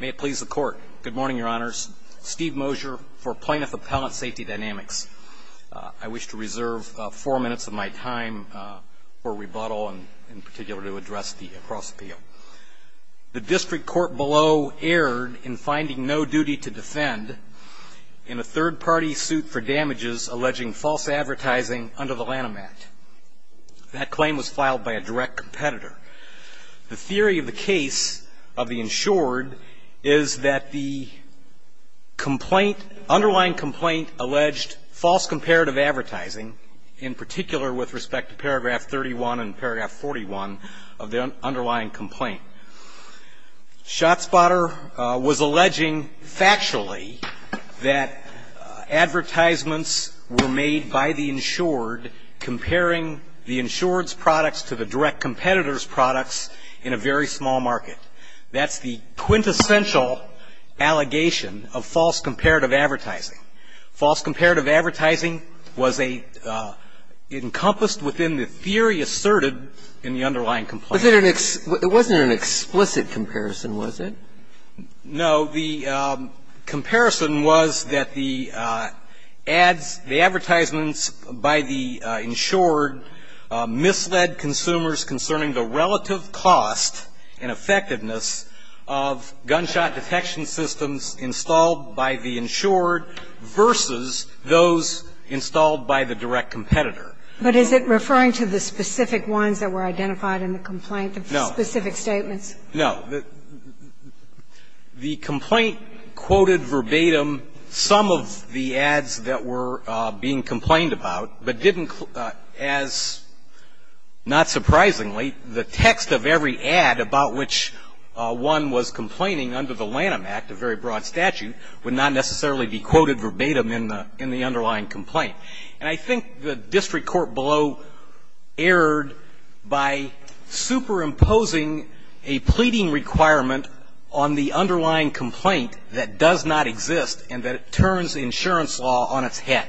May it please the Court. Good morning, Your Honors. Steve Mosier for Plaintiff Appellant Safety Dynamics. I wish to reserve four minutes of my time for rebuttal and, in particular, to address the cross-appeal. The district court below erred in finding no duty to defend in a third-party suit for damages alleging false advertising under the Lanham Act. That claim was filed by a direct competitor. The theory of the case of the insured is that the complaint, underlying complaint, alleged false comparative advertising, in particular with respect to paragraph 31 and paragraph 41 of the underlying complaint. Shotspotter was alleging factually that advertisements were made by the insured comparing the insured's products to the direct competitor's products in a very small market. That's the quintessential allegation of false comparative advertising. False comparative advertising was a – encompassed within the theory asserted in the underlying complaint. It wasn't an explicit comparison, was it? No. The comparison was that the ads, the advertisements by the insured misled consumers concerning the relative cost and effectiveness of gunshot detection systems installed by the insured versus those installed by the direct competitor. But is it referring to the specific ones that were identified in the complaint? The specific statements? No. The complaint quoted verbatim some of the ads that were being complained about, but didn't, as not surprisingly, the text of every ad about which one was complaining under the Lanham Act, a very broad statute, would not necessarily be quoted verbatim in the underlying complaint. And I think the district court below erred by superimposing a pleading requirement on the underlying complaint that does not exist and that turns insurance law on its head.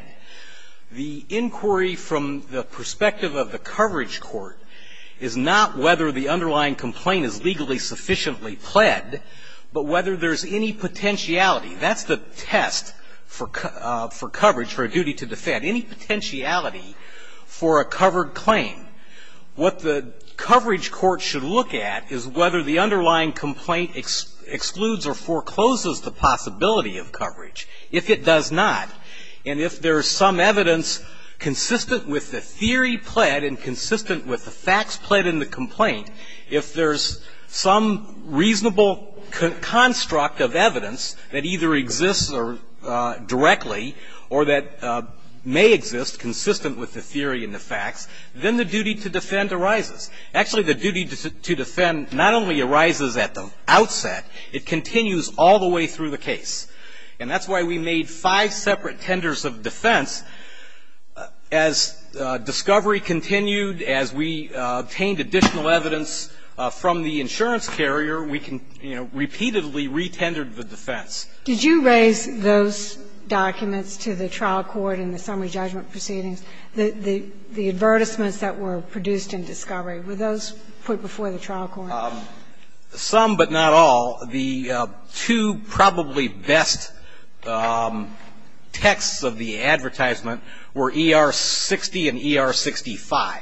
The inquiry from the perspective of the coverage court is not whether the underlying complaint is legally sufficiently pled, but whether there's any potentiality. That's the test for coverage, for a duty to defend, any potentiality for a covered claim. What the coverage court should look at is whether the underlying complaint excludes or forecloses the possibility of coverage. If it does not, and if there's some evidence consistent with the theory pled and consistent with the facts pled in the complaint, if there's some reasonable construct of evidence that either exists directly or that may exist consistent with the theory and the facts, then the duty to defend arises. Actually, the duty to defend not only arises at the outset. It continues all the way through the case. And that's why we made five separate tenders of defense. As discovery continued, as we obtained additional evidence from the insurance carrier, we can, you know, repeatedly re-tendered the defense. Did you raise those documents to the trial court in the summary judgment proceedings, the advertisements that were produced in discovery? Were those put before the trial court? Some, but not all. The two probably best texts of the advertisement were ER-60 and ER-65.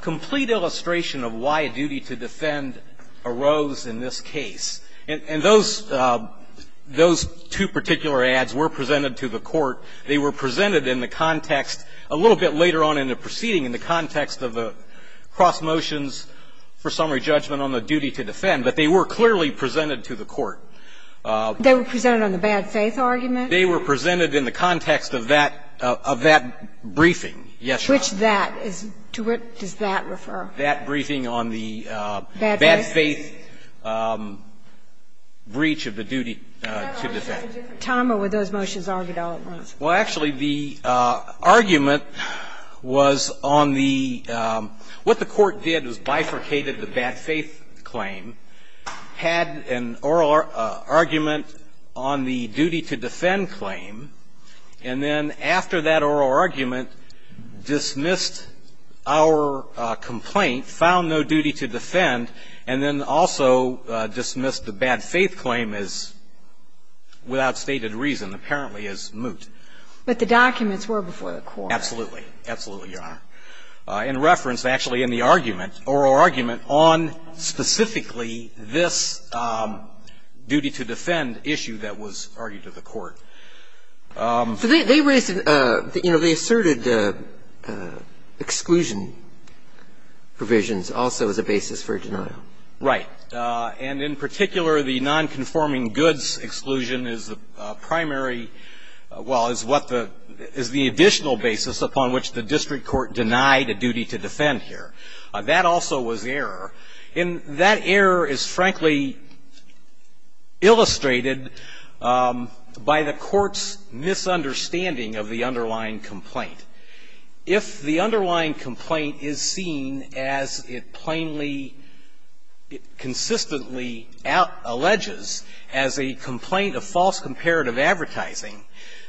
Complete illustration of why a duty to defend arose in this case. And those two particular ads were presented to the court. They were presented in the context, a little bit later on in the proceeding, in the context of the cross motions for summary judgment on the duty to defend. But they were clearly presented to the court. They were presented on the bad faith argument? They were presented in the context of that briefing. Which that? What does that refer? That briefing on the bad faith breach of the duty to defend. Tell them what those motions are, but I'll read them. Well, actually, the argument was on the what the court did was bifurcated the bad faith claim, had an oral argument on the duty to defend claim, and then after that oral argument, dismissed our complaint, found no duty to defend, and then also dismissed the bad faith claim as without stated reason, apparently as moot. But the documents were before the court. Absolutely. Absolutely, Your Honor. In reference, actually in the argument, oral argument on specifically this duty to defend issue that was argued to the court. So they raised, you know, they asserted exclusion provisions also as a basis for a denial. Right. And in particular, the nonconforming goods exclusion is the primary, well, is what the, is the additional basis upon which the district court denied a duty to defend here. That also was error. And that error is frankly illustrated by the court's misunderstanding of the underlying complaint. If the underlying complaint is seen as it plainly, it consistently alleges as a complaint of false comparative advertising,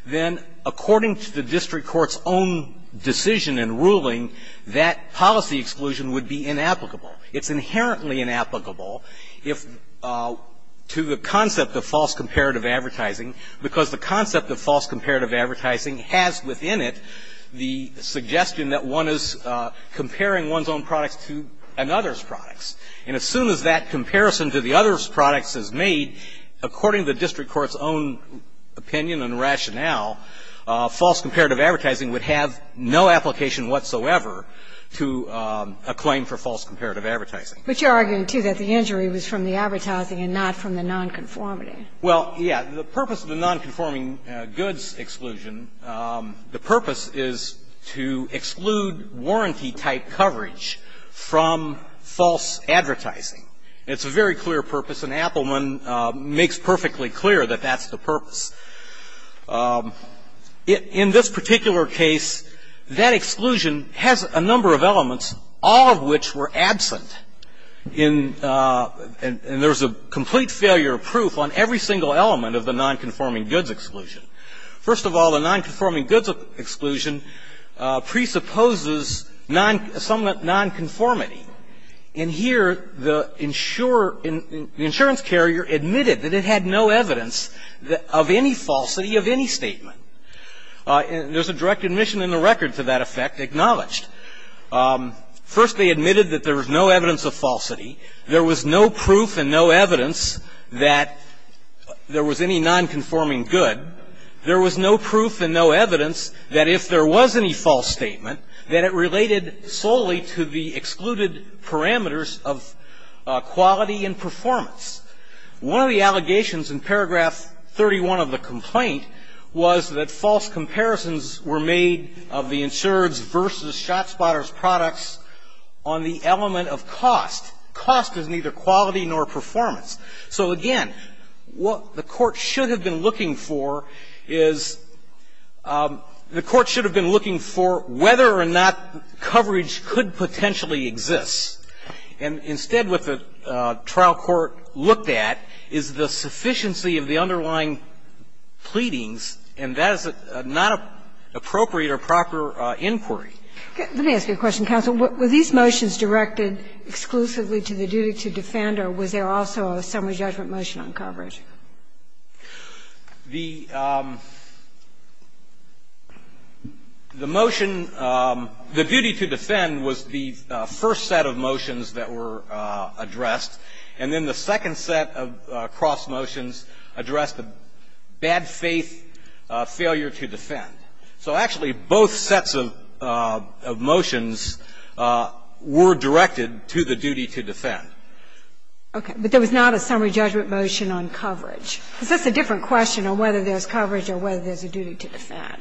then according to the district court's own decision and ruling, that policy exclusion would be inapplicable. It's inherently inapplicable if, to the concept of false comparative advertising, because the concept of false comparative advertising has within it the suggestion that one is comparing one's own products to another's products. And as soon as that comparison to the other's products is made, according to the district court's own opinion and rationale, false comparative advertising would have no application whatsoever to a claim for false comparative advertising. But you're arguing, too, that the injury was from the advertising and not from the nonconformity. Well, yes. The purpose of the nonconforming goods exclusion, the purpose is to exclude warranty type coverage from false advertising. It's a very clear purpose, and Appelman makes perfectly clear that that's the purpose. In this particular case, that exclusion has a number of elements, all of which were absent. And there's a complete failure of proof on every single element of the nonconforming goods exclusion. First of all, the nonconforming goods exclusion presupposes non – somewhat nonconformity. In here, the insurer – the insurance carrier admitted that it had no evidence of any falsity of any statement. There's a direct admission in the record to that effect acknowledged. First, they admitted that there was no evidence of falsity. There was no proof and no evidence that there was any nonconforming good. There was no proof and no evidence that if there was any false statement, that it related solely to the excluded parameters of quality and performance. One of the allegations in paragraph 31 of the complaint was that false comparisons were made of the insured's versus ShotSpotter's products on the element of cost. Cost is neither quality nor performance. So, again, what the Court should have been looking for is – the Court should have been looking for whether or not coverage could potentially exist. And instead, what the trial court looked at is the sufficiency of the underlying pleadings, and that is not an appropriate or proper inquiry. Let me ask you a question, counsel. Were these motions directed exclusively to the duty to defend, or was there also a summary judgment motion on coverage? The motion – the duty to defend was the first set of motions that were addressed, and then the second set of cross motions addressed the bad faith failure to defend. So actually, both sets of motions were directed to the duty to defend. Okay. But there was not a summary judgment motion on coverage. Is this a different question on whether there's coverage or whether there's a duty to defend?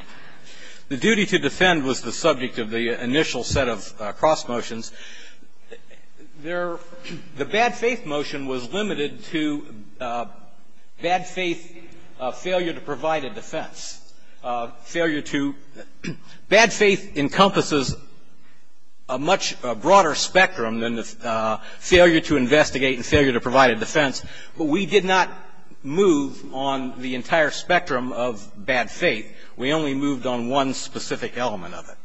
The duty to defend was the subject of the initial set of cross motions. There – the bad faith motion was limited to bad faith failure to provide a defense, failure to – bad faith encompasses a much broader spectrum than the failure to investigate and failure to provide a defense. But we did not move on the entire spectrum of bad faith. We only moved on one specific element of it.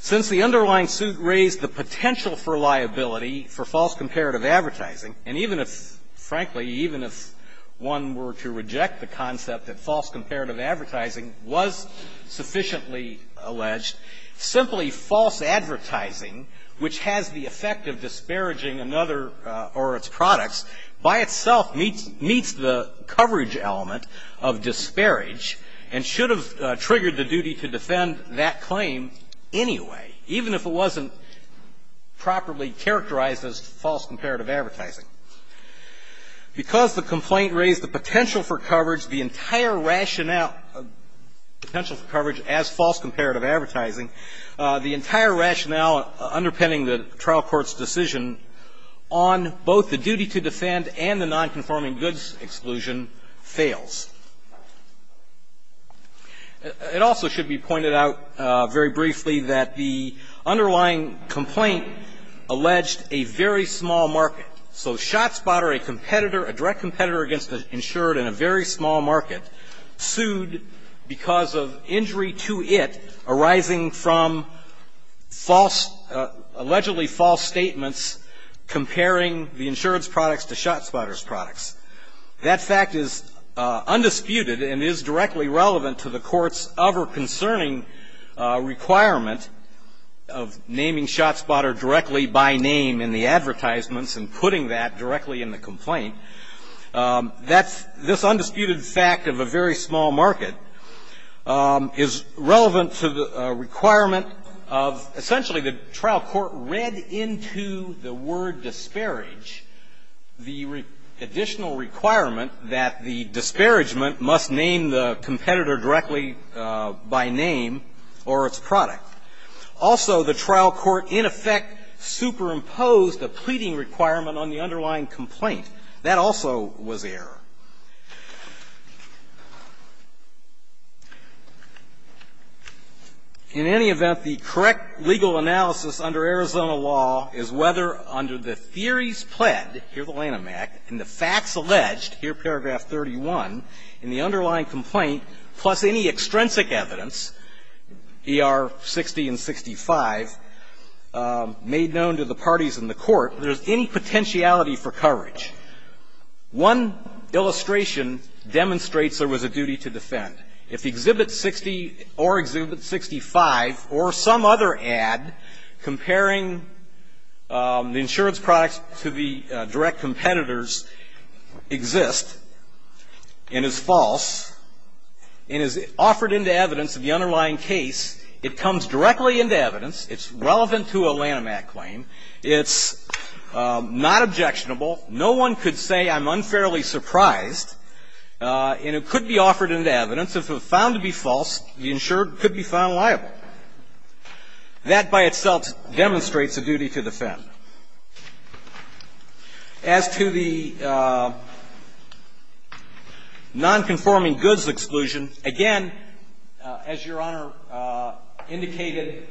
Since the underlying suit raised the potential for liability for false comparative advertising, and even if – frankly, even if one were to reject the concept that false comparative advertising was sufficiently alleged, simply false advertising, which has the effect of disparaging another or its products, by itself meets – meets the coverage element of disparage and should have triggered the duty to defend that claim anyway, even if it wasn't properly characterized as false comparative advertising. Because the complaint raised the potential for coverage, the entire rationale – potential for coverage as false comparative advertising, the entire rationale underpinning the trial court's decision on both the duty to defend and the nonconforming goods exclusion fails. It also should be pointed out very briefly that the underlying complaint alleged a very small market. So ShotSpotter, a competitor, a direct competitor against the insured in a very small market, sued because of injury to it arising from false – allegedly false statements comparing the insured's products to ShotSpotter's products. That fact is undisputed and is directly relevant to the Court's ever-concerning requirement of naming ShotSpotter directly by name in the advertisements and putting that directly in the complaint. That's – this undisputed fact of a very small market is relevant to the requirement of – essentially, the trial court read into the word disparage the additional requirement that the disparagement must name the competitor directly by name or its product. Also, the trial court, in effect, superimposed a pleading requirement on the underlying complaint. That also was error. In any event, the correct legal analysis under Arizona law is whether under the theories pled, here the Lanham Act, and the facts alleged, here paragraph 31, in the underlying complaint, plus any extrinsic evidence, ER 60 and 65, made known to the parties in the court, there's any potentiality for coverage. One illustration demonstrates there was a duty to defend. If Exhibit 60 or Exhibit 65 or some other ad comparing the insured's products to the direct competitor's exist and is false and is offered into evidence in the underlying case, it comes directly into evidence, it's relevant to a Lanham Act claim, it's not objectionable, no one could say I'm unfairly surprised, and it could be offered into evidence. If found to be false, the insured could be found liable. That, by itself, demonstrates a duty to defend. As to the nonconforming goods exclusion, again, as Your Honor indicated,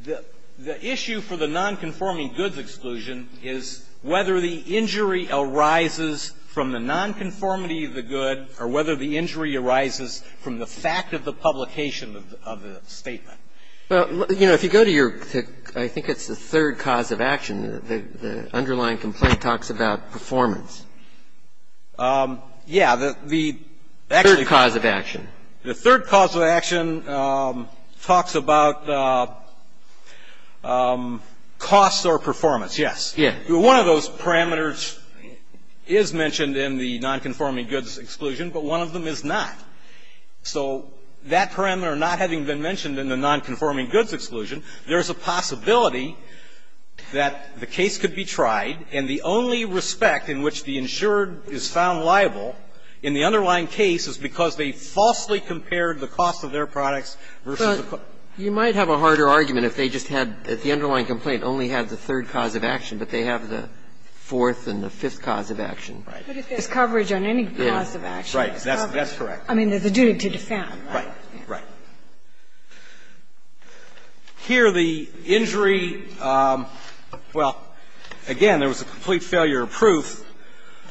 the issue for the nonconforming goods exclusion is whether the injury arises from the nonconformity of the good or whether the injury arises from the fact of the publication of the statement. Well, you know, if you go to your, I think it's the third cause of action, the underlying complaint talks about performance. Yeah. The third cause of action. The third cause of action talks about costs or performance, yes. Yeah. One of those parameters is mentioned in the nonconforming goods exclusion, but one of them is not. So that parameter, not having been mentioned in the nonconforming goods exclusion, there is a possibility that the case could be tried and the only respect in which the insured is found liable in the underlying case is because they falsely compared the cost of their products versus the cost of their goods. But you might have a harder argument if they just had, if the underlying complaint only had the third cause of action, but they have the fourth and the fifth cause of action. Right. But if there's coverage on any cause of action. Right. That's correct. I mean, there's a duty to defend. Right. Right. Here the injury, well, again, there was a complete failure of proof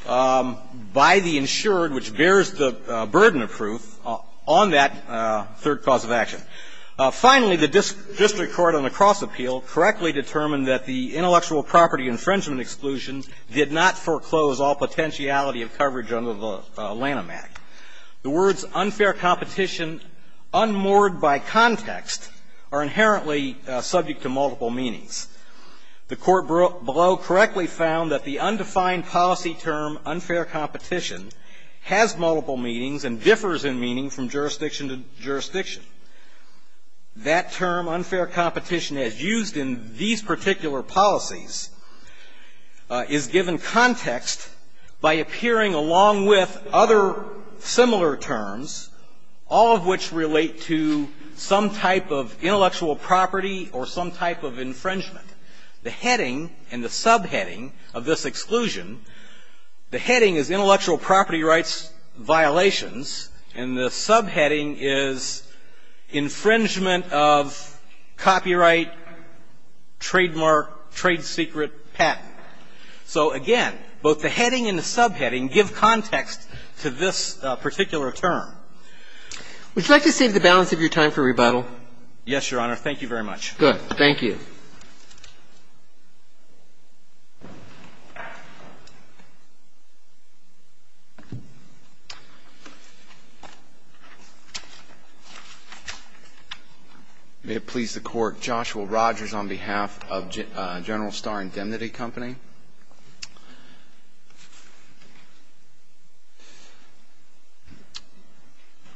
by the insured, which bears the burden of proof on that third cause of action. Finally, the district court on the Cross Appeal correctly determined that the intellectual property infringement exclusion did not foreclose all potentiality of coverage under the Lanham Act. The words unfair competition, unmoored by context, are inherently subject to multiple meanings. The Court below correctly found that the undefined policy term unfair competition has multiple meanings and differs in meaning from jurisdiction to jurisdiction. That term, unfair competition, as used in these particular policies, is given context by appearing along with other similar terms, all of which relate to some type of intellectual property or some type of infringement. The heading and the subheading of this exclusion, the heading is intellectual property rights violations, and the subheading is infringement of copyright trademark trade secret patent. So, again, both the heading and the subheading give context to this particular term. Would you like to save the balance of your time for rebuttal? Yes, Your Honor. Thank you very much. Good. Thank you. May it please the Court. Joshua Rogers on behalf of General Star Indemnity Company.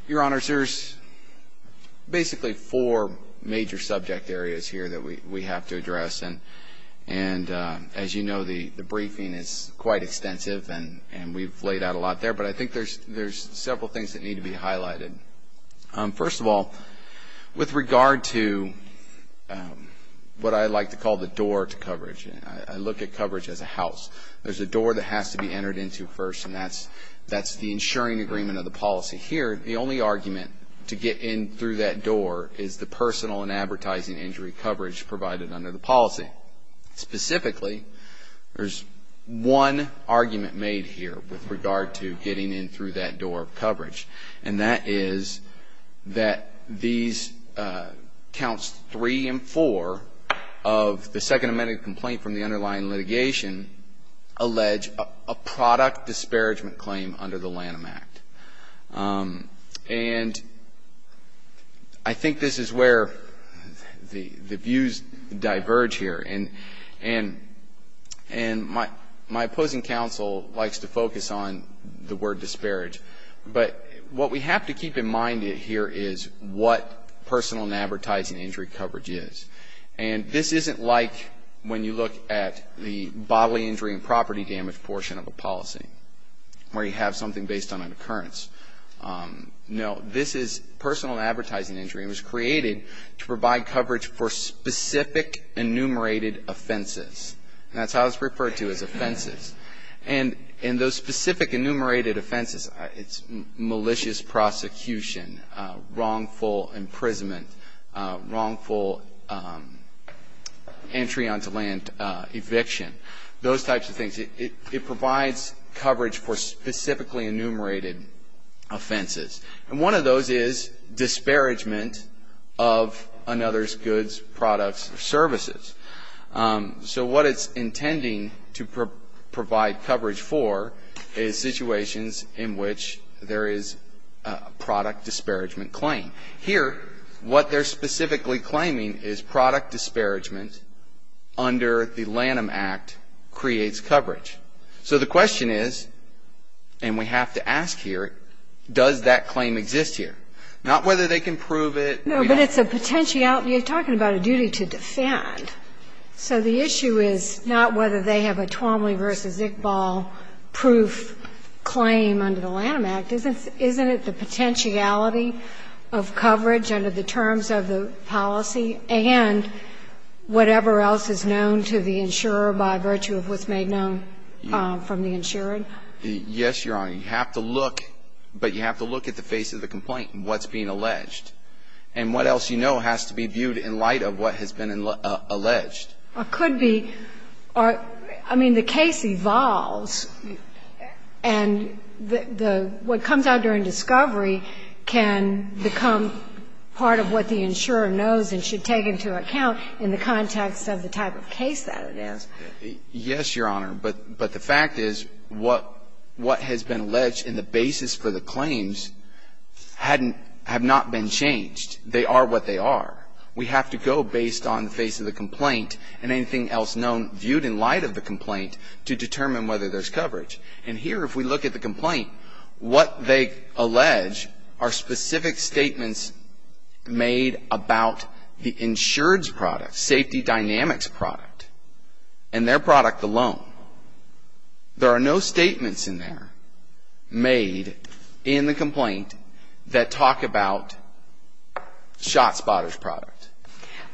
Your Honor, there's basically four major subject areas here that we have to address. And as you know, the briefing is quite extensive, and we've laid out a lot there. But I think there's several things that need to be highlighted. First of all, with regard to what I like to call the door to coverage, I look at coverage as a house. There's a door that has to be entered into first, and that's the insuring agreement of the policy. Here, the only argument to get in through that door is the personal and advertising injury coverage provided under the policy. Specifically, there's one argument made here with regard to getting in through that door of coverage. And that is that these counts three and four of the second amended complaint from the underlying litigation allege a product disparagement claim under the Lanham Act. And I think this is where the views diverge here. And my opposing counsel likes to focus on the word disparage. But what we have to keep in mind here is what personal and advertising injury coverage is. And this isn't like when you look at the bodily injury and property damage portion of a policy, where you have something based on an occurrence. No, this is personal and advertising injury, and it was created to provide coverage for specific enumerated offenses. That's how it's referred to as offenses. And those specific enumerated offenses, it's malicious prosecution, wrongful imprisonment, wrongful entry onto land eviction, those types of things. It provides coverage for specifically enumerated offenses. And one of those is disparagement of another's goods, products, or services. So what it's intending to provide coverage for is situations in which there is a product disparagement claim. Here, what they're specifically claiming is product disparagement under the Lanham Act creates coverage. So the question is, and we have to ask here, does that claim exist here? Not whether they can prove it. No, but it's a potentiality. You're talking about a duty to defend. So the issue is not whether they have a Twomley v. Iqbal proof claim under the Lanham Act. Isn't it the potentiality of coverage under the terms of the policy and whatever else is known to the insurer by virtue of what's made known from the insurer? Yes, Your Honor. You have to look, but you have to look at the face of the complaint and what's being alleged. And what else you know has to be viewed in light of what has been alleged. Well, it could be or, I mean, the case evolves, and the what comes out during discovery can become part of what the insurer knows and should take into account in the context of the type of case that it is. Yes, Your Honor. But the fact is what has been alleged and the basis for the claims hadn't been changed. They are what they are. We have to go based on the face of the complaint and anything else known viewed in light of the complaint to determine whether there's coverage. And here, if we look at the complaint, what they allege are specific statements made about the insured's product, safety dynamics product, and their product alone. There are no statements in there made in the complaint that talk about Shotspotter's product.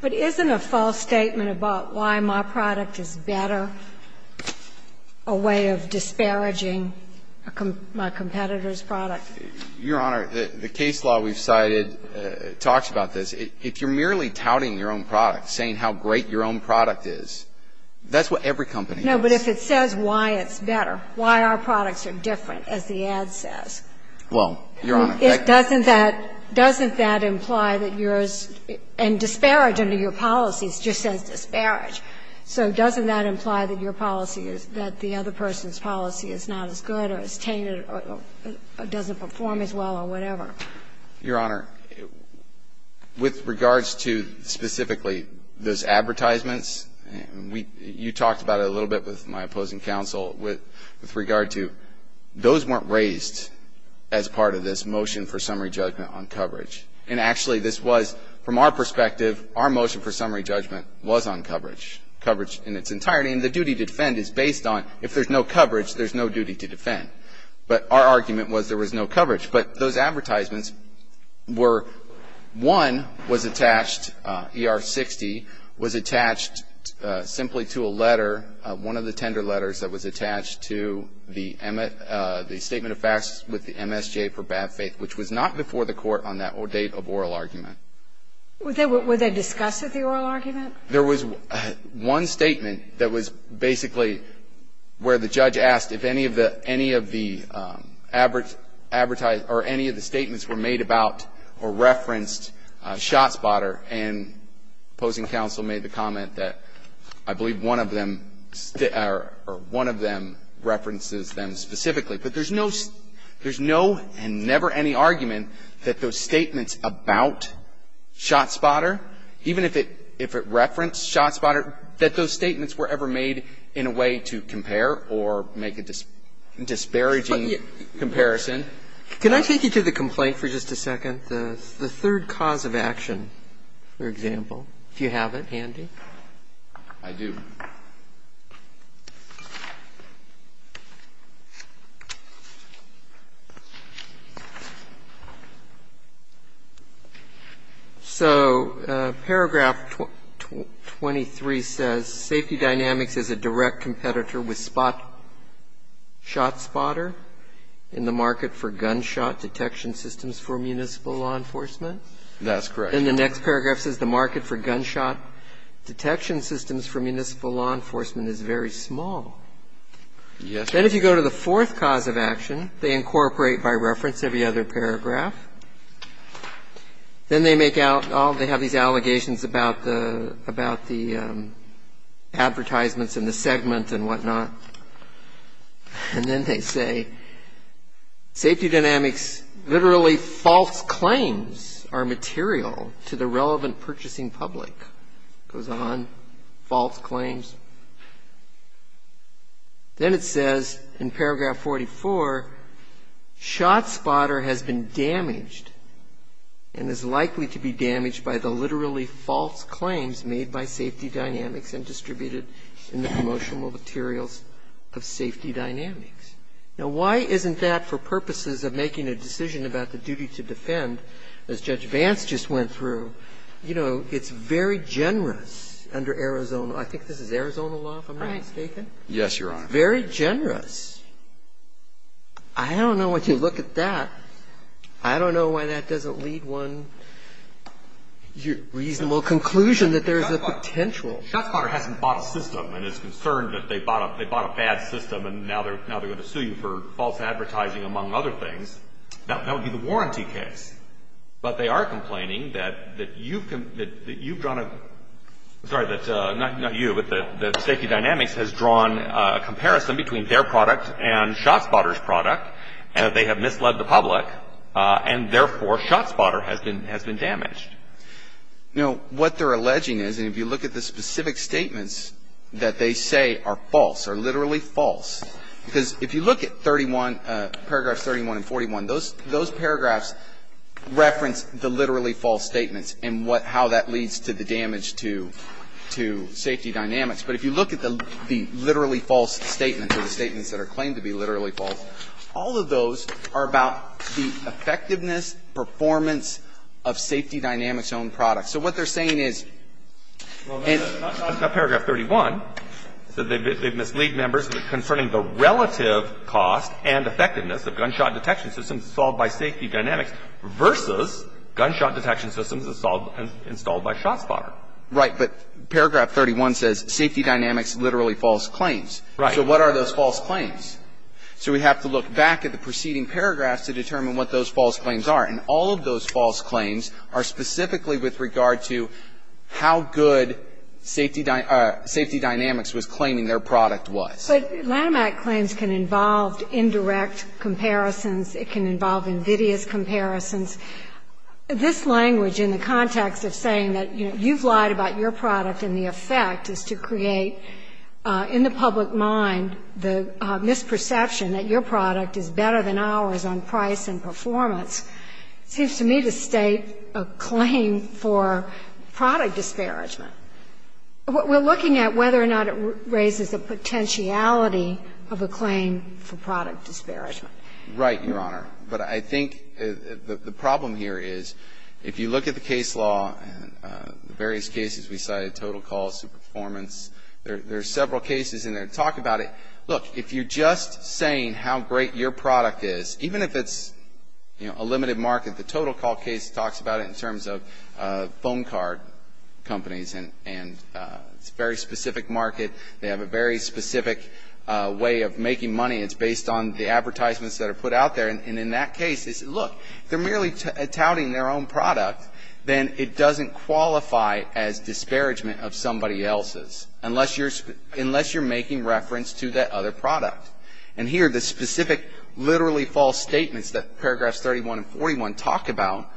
But isn't a false statement about why my product is better a way of disparaging my competitor's product? Your Honor, the case law we've cited talks about this. If you're merely touting your own product, saying how great your own product is, that's what every company does. No, but if it says why it's better, why our products are different, as the ad says. Well, Your Honor, that doesn't that imply that yours and disparage under your policies just says disparage. So doesn't that imply that your policy is that the other person's policy is not as good or as tainted or doesn't perform as well or whatever? Your Honor, with regards to specifically those advertisements, you talked about it a little bit with my opposing counsel, with regard to those weren't raised as part of this motion for summary judgment on coverage. And actually, this was, from our perspective, our motion for summary judgment was on coverage. Coverage in its entirety, and the duty to defend is based on if there's no coverage, there's no duty to defend. But our argument was there was no coverage. But those advertisements were, one was attached, ER-60, was attached simply to a letter, one of the tender letters that was attached to the statement of facts with the MSJ for bad faith, which was not before the court on that date of oral argument. Were they discussed at the oral argument? There was one statement that was basically where the judge asked if any of the, any of the advertise, or any of the statements were made about or referenced ShotSpotter. And opposing counsel made the comment that I believe one of them, or one of them references them specifically. But there's no, there's no and never any argument that those statements about ShotSpotter, even if it referenced ShotSpotter, that those statements were ever made in a way to compare or make a disparaging comparison. Can I take you to the complaint for just a second? The third cause of action, for example, if you have it handy. I do. So paragraph 23 says safety dynamics is a direct competitor with Spot, ShotSpotter in the market for gunshot detection systems for municipal law enforcement. That's correct. And the next paragraph says the market for gunshot detection systems for municipal law enforcement is a direct competitor with SpotShotSpotter. And the next paragraph says the market for gunshot detection systems for municipal law enforcement is very small. Then if you go to the fourth cause of action, they incorporate, by reference, every other paragraph. Then they make out, oh, they have these allegations about the, about the advertisements and the segment and whatnot, and then they say safety dynamics, literally false claims are material to the relevant purchasing public. It goes on, false claims. Then it says in paragraph 44, ShotSpotter has been damaged and is likely to be damaged by the literally false claims made by safety dynamics and distributed in the promotional materials of safety dynamics. Now, why isn't that, for purposes of making a decision about the duty to defend, as Judge Vance just went through, you know, it's very generous under Arizona. I think this is Arizona law, if I'm not mistaken. Yes, Your Honor. It's very generous. I don't know, once you look at that, I don't know why that doesn't lead one reasonable conclusion that there is a potential. ShotSpotter hasn't bought a system and is concerned that they bought a bad system and now they're going to sue you for false advertising, among other things. That would be the warranty case. But they are complaining that you've drawn a, sorry, not you, but that safety dynamics has drawn a comparison between their product and ShotSpotter's product, and that they have misled the public, and therefore ShotSpotter has been damaged. You know, what they're alleging is, and if you look at the specific statements that they say are false, are literally false, because if you look at 31, paragraphs 31 and 41, those paragraphs reference the literally false statements and what, how that leads to the damage to safety dynamics. But if you look at the literally false statements, or the statements that are claimed to be literally false, all of those are about the effectiveness, performance of safety dynamics-owned products. So what they're saying is- Well, that's not paragraph 31. They've misled members concerning the relative cost and effectiveness of gunshot detection systems installed by safety dynamics versus gunshot detection systems installed by ShotSpotter. Right. But paragraph 31 says safety dynamics, literally false claims. Right. So what are those false claims? So we have to look back at the preceding paragraphs to determine what those false claims are specifically with regard to how good safety dynamics was claiming their product was. But Lanham Act claims can involve indirect comparisons. It can involve invidious comparisons. This language in the context of saying that, you know, you've lied about your product and the effect is to create, in the public mind, the misperception that your product is better than ours on price and performance, seems to me to state that there's a claim for product disparagement. We're looking at whether or not it raises the potentiality of a claim for product disparagement. Right, Your Honor. But I think the problem here is, if you look at the case law, various cases we cited, total cost, performance, there are several cases in there that talk about it. Look, if you're just saying how great your product is, even if it's, you know, a limited market, the total cost case talks about it in terms of phone card companies, and it's a very specific market, they have a very specific way of making money, it's based on the advertisements that are put out there. And in that case, look, they're merely touting their own product, then it doesn't qualify as disparagement of somebody else's, unless you're making reference to that other product. And here, the specific, literally false statements that paragraphs 31 and 41 talk about,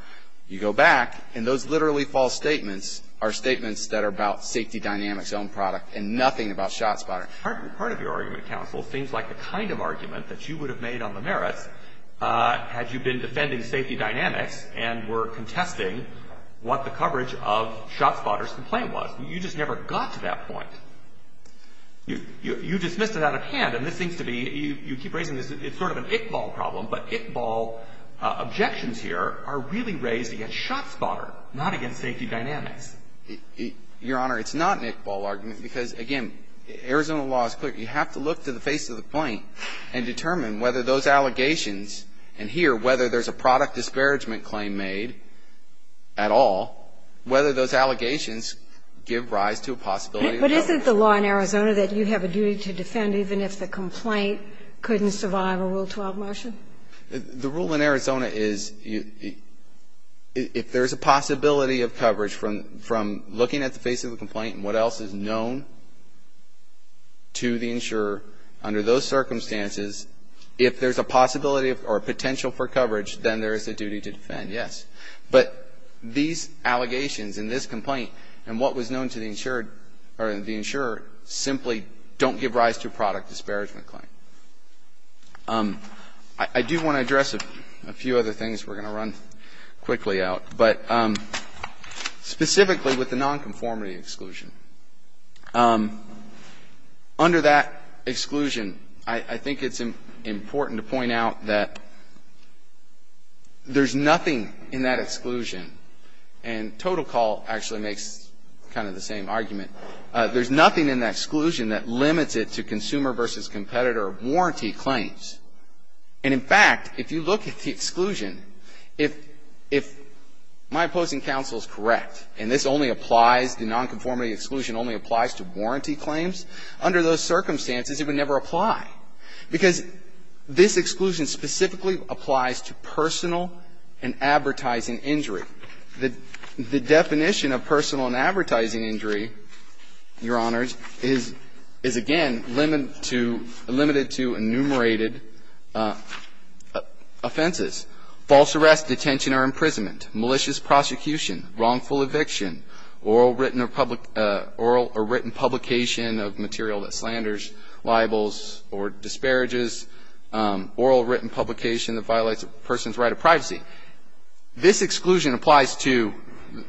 you go back, and those literally false statements are statements that are about Safety Dynamics' own product and nothing about ShotSpotter. Part of your argument, counsel, seems like the kind of argument that you would have made on the merits had you been defending Safety Dynamics and were contesting what the coverage of ShotSpotter's complaint was. You just never got to that point. You dismissed it out of hand, and this seems to be, you keep raising this, it's sort of an Iqbal problem, but Iqbal objections here are really raised against ShotSpotter, not against Safety Dynamics. Your Honor, it's not an Iqbal argument, because, again, Arizona law is clear, you have to look to the face of the point and determine whether those allegations, and here, whether there's a product disparagement claim made at all, whether those allegations give rise to a possibility of coverage. But isn't the law in Arizona that you have a duty to defend even if the complaint couldn't survive a Rule 12 motion? The rule in Arizona is if there's a possibility of coverage from looking at the face of the complaint and what else is known to the insurer under those circumstances, if there's a possibility or potential for coverage, then there is a duty to defend, yes. But these allegations in this complaint and what was known to the insured, or the insurer, simply don't give rise to a product disparagement claim. I do want to address a few other things. We're going to run quickly out, but specifically with the nonconformity exclusion. Under that exclusion, I think it's important to point out that there's nothing in that exclusion, and Total Call actually makes kind of the same argument. There's nothing in that exclusion that limits it to consumer versus competitor warranty claims. And in fact, if you look at the exclusion, if my opposing counsel is correct, and this only applies, the nonconformity exclusion only applies to warranty claims, under those circumstances, it would never apply because this exclusion specifically applies to personal and advertising injury. The definition of personal and advertising injury, Your Honors, is again limited to enumerated offenses, false arrest, detention, or imprisonment, malicious prosecution, wrongful eviction, oral or written publication of material that slanders, libels, or disparages, oral or written publication that violates a person's right of privacy. This exclusion applies to,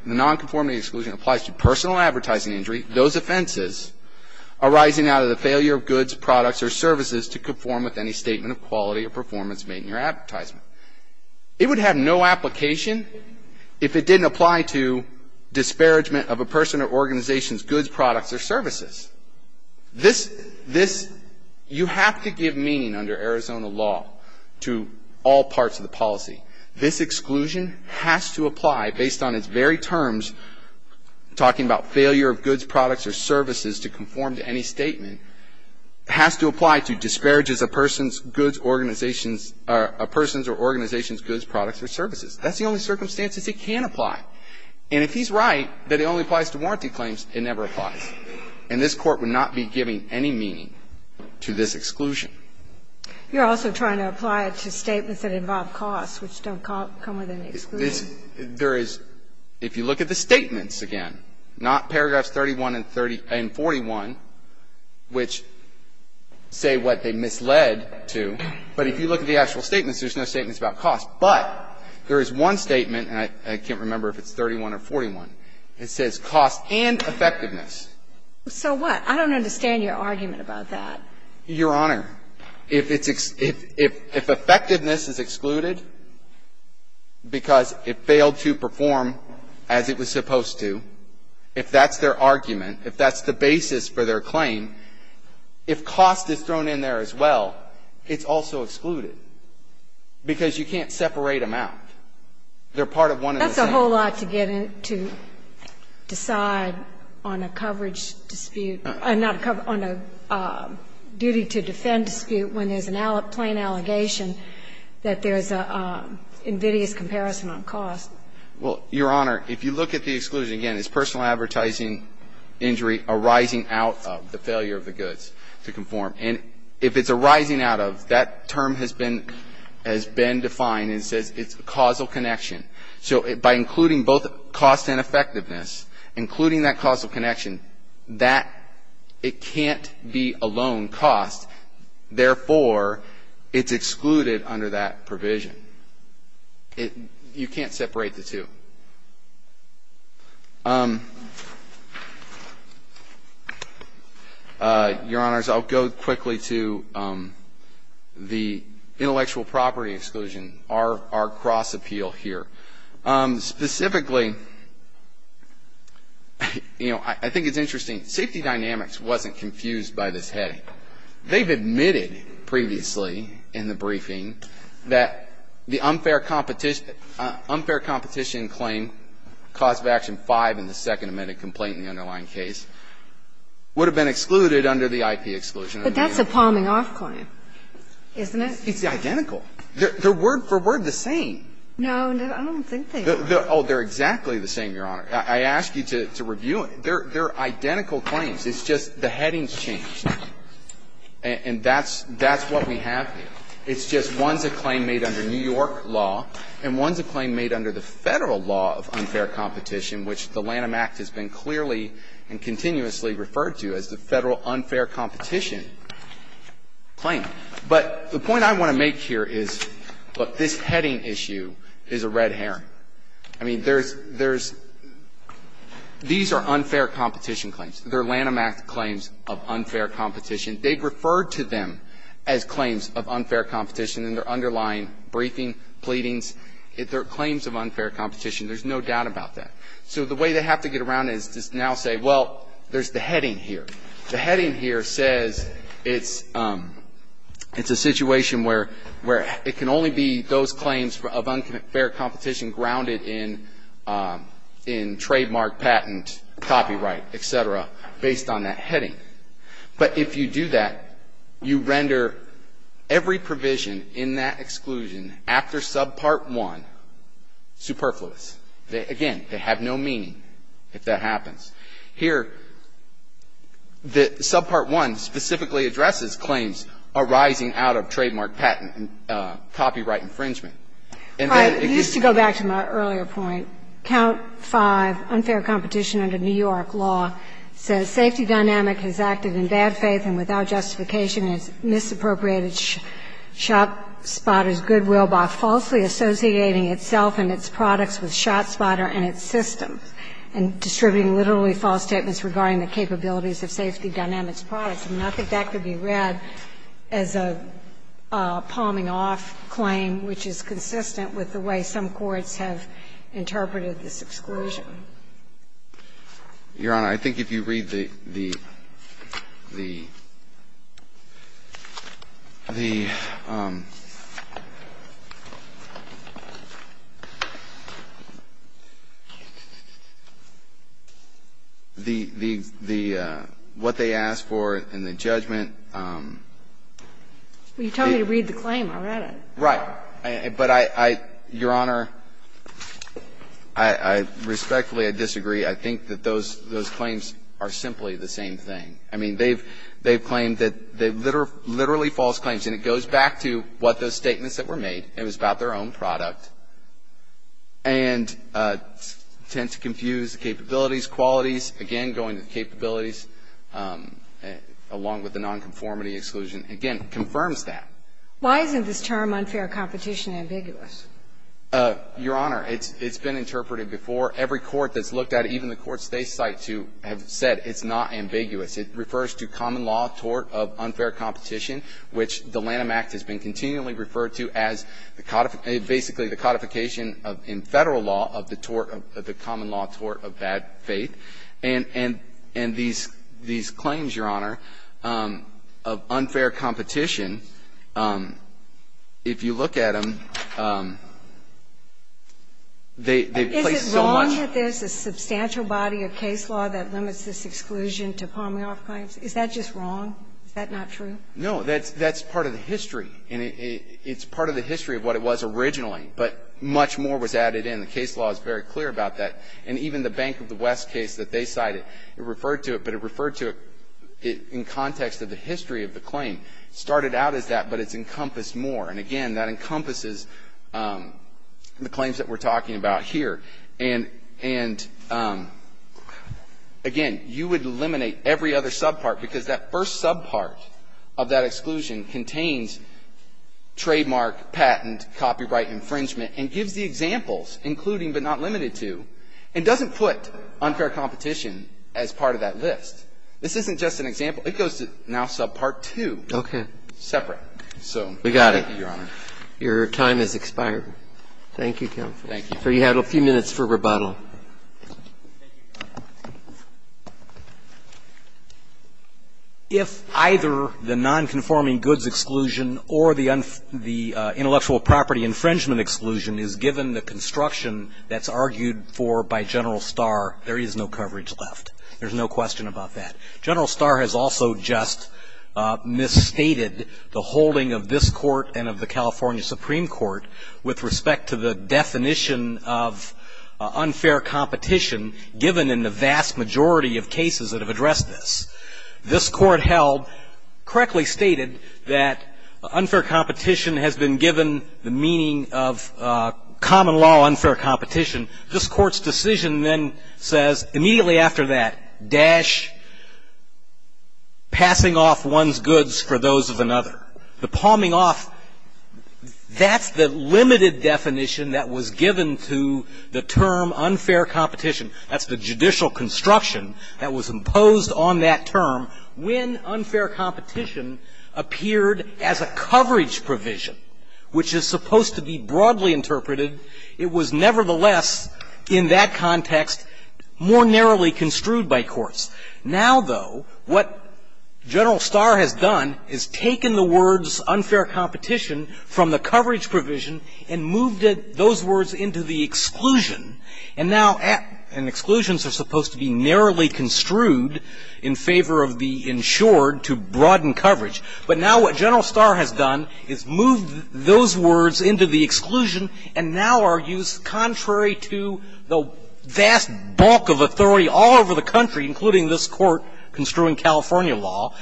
the nonconformity exclusion applies to personal advertising injury, those offenses arising out of the failure of goods, products, or services to conform with any statement of quality or performance made in your advertisement. It would have no application if it didn't apply to disparagement of a person or organization's goods, products, or services. This, this, you have to give meaning under Arizona law to all parts of the policy. This exclusion has to apply based on its very terms, talking about failure of goods, products, or services to conform to any statement, has to apply to disparages of a person's goods, organization's, or a person's or organization's goods, products, or services. That's the only circumstances it can apply. And if he's right that it only applies to warranty claims, it never applies. And this Court would not be giving any meaning to this exclusion. You're also trying to apply it to statements that involve costs, which don't come with an exclusion. There is, if you look at the statements again, not paragraphs 31 and 41, which say what they misled to. But if you look at the actual statements, there's no statements about cost. But there is one statement, and I can't remember if it's 31 or 41. It says cost and effectiveness. So what? I don't understand your argument about that. Your Honor, if it's, if, if, if effectiveness is excluded because it failed to perform as it was supposed to, if that's their argument, if that's the basis for their claim, if cost is thrown in there as well, it's also excluded. Because you can't separate them out. They're part of one of the same. It's a whole lot to get in, to decide on a coverage dispute, not a cover, on a duty to defend dispute when there's a plain allegation that there's an invidious comparison on cost. Well, Your Honor, if you look at the exclusion again, it's personal advertising injury arising out of the failure of the goods to conform. And if it's arising out of, that term has been, has been defined and says it's causal connection. So by including both cost and effectiveness, including that causal connection, that, it can't be a loan cost, therefore, it's excluded under that provision. It, you can't separate the two. Your Honors, I'll go quickly to the intellectual property exclusion, our, our cross appeal here. Specifically, you know, I, I think it's interesting. Safety Dynamics wasn't confused by this heading. They've admitted previously in the briefing that the unfair competition, unfair competition claim, cause of action 5 in the second amended complaint in the underlying case, would have been excluded under the IP exclusion. But that's a palming off claim, isn't it? It's identical. They're, they're word for word the same. No, I don't think they are. Oh, they're exactly the same, Your Honor. I, I ask you to, to review it. They're, they're identical claims. It's just the headings changed. And, and that's, that's what we have here. It's just one's a claim made under New York law, and one's a claim made under the Federal law of unfair competition, which the Lanham Act has been clearly and continuously referred to as the Federal unfair competition claim. But the point I want to make here is, look, this heading issue is a red herring. I mean, there's, there's, these are unfair competition claims. They're Lanham Act claims of unfair competition. They've referred to them as claims of unfair competition in their underlying briefing, pleadings. They're claims of unfair competition. There's no doubt about that. So the way they have to get around is to now say, well, there's the heading here. The heading here says it's, it's a situation where, where it can only be those claims for, of unfair competition grounded in, in trademark, patent, copyright, et cetera, based on that heading. But if you do that, you render every provision in that exclusion after sub part one superfluous. They, again, they have no meaning if that happens. Here, the sub part one specifically addresses claims arising out of trademark, patent, copyright infringement. And then it gets to the other side of it. I used to go back to my earlier point. Count 5, unfair competition under New York law, says safety dynamic has acted in bad faith and without justification and has misappropriated ShotSpotter's goodwill by falsely associating itself and its products with ShotSpotter and its systems and distributing literally false statements regarding the capabilities of safety dynamics products. And I think that could be read as a palming off claim, which is consistent with the way some courts have interpreted this exclusion. Your Honor, I think if you read the, the, the, the, what they asked for in the judgment. You told me to read the claim. I read it. Right. But I, I, Your Honor, I, I, respectfully, I disagree. I think that those, those claims are simply the same thing. I mean, they've, they've claimed that they're literally false claims. And it goes back to what those statements that were made. It was about their own product and tend to confuse the capabilities, qualities. Again, going to the capabilities, along with the nonconformity exclusion, again, confirms that. Why isn't this term, unfair competition, ambiguous? Your Honor, it's, it's been interpreted before. Every court that's looked at, even the courts they cite to have said it's not ambiguous. It refers to common law tort of unfair competition, which the Lanham Act has been continually referred to as the basically the codification in Federal law of the tort of the common law tort of bad faith. And, and, and these, these claims, Your Honor, of unfair competition, if you look at them, they, they place so much. Is it wrong that there's a substantial body of case law that limits this exclusion to Pomeroy claims? Is that just wrong? Is that not true? No, that's, that's part of the history. And it, it, it's part of the history of what it was originally, but much more was added in. The case law is very clear about that. And even the Bank of the West case that they cited, it referred to it, but it referred to it in context of the history of the claim. It started out as that, but it's encompassed more. And again, that encompasses the claims that we're talking about here. And, and again, you would eliminate every other subpart, because that first subpart of that exclusion contains trademark, patent, copyright infringement, and gives the examples, including but not limited to, and doesn't put unfair competition as part of that list. This isn't just an example. It goes to now subpart 2. Okay. So, thank you, Your Honor. We got it. Your time has expired. Thank you, counsel. Thank you. You have a few minutes for rebuttal. If either the nonconforming goods exclusion or the intellectual property infringement exclusion is given the construction that's argued for by General Starr, there is no coverage left. There's no question about that. General Starr has also just misstated the holding of this court and of the California Supreme Court with respect to the definition of unfair competition given in the vast majority of cases that have addressed this. This court held, correctly stated, that unfair competition has been given the meaning of common law unfair competition. This court's decision then says, immediately after that, dash, passing off one's goods for those of another. The palming off, that's the limited definition that was given to the term unfair competition. That's the judicial construction that was imposed on that term. When unfair competition appeared as a coverage provision, which is supposed to be broadly interpreted, it was nevertheless, in that context, more narrowly construed by courts. Now, though, what General Starr has done is taken the words unfair competition from the coverage provision and moved those words into the exclusion. And now, and exclusions are supposed to be narrowly construed in favor of the insured to broaden coverage, but now what General Starr has done is moved those words into the exclusion and now argues contrary to the vast bulk of authority all over the country, including this court construing California law,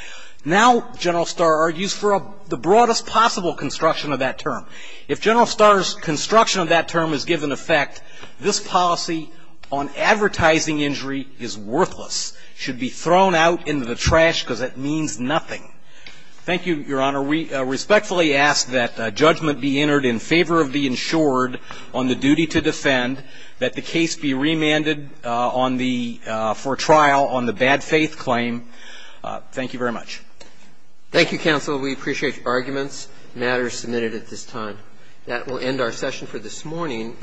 now General Starr argues for the broadest possible construction of that term. If General Starr's construction of that term is given effect, this policy on advertising injury is worthless, should be thrown out into the trash because it means nothing. Thank you, Your Honor. We respectfully ask that judgment be entered in favor of the insured on the duty to defend, that the case be remanded on the, for trial on the bad faith claim. Thank you very much. Thank you, counsel. We appreciate your arguments. The matter is submitted at this time. That will end our session for this morning. Thank you.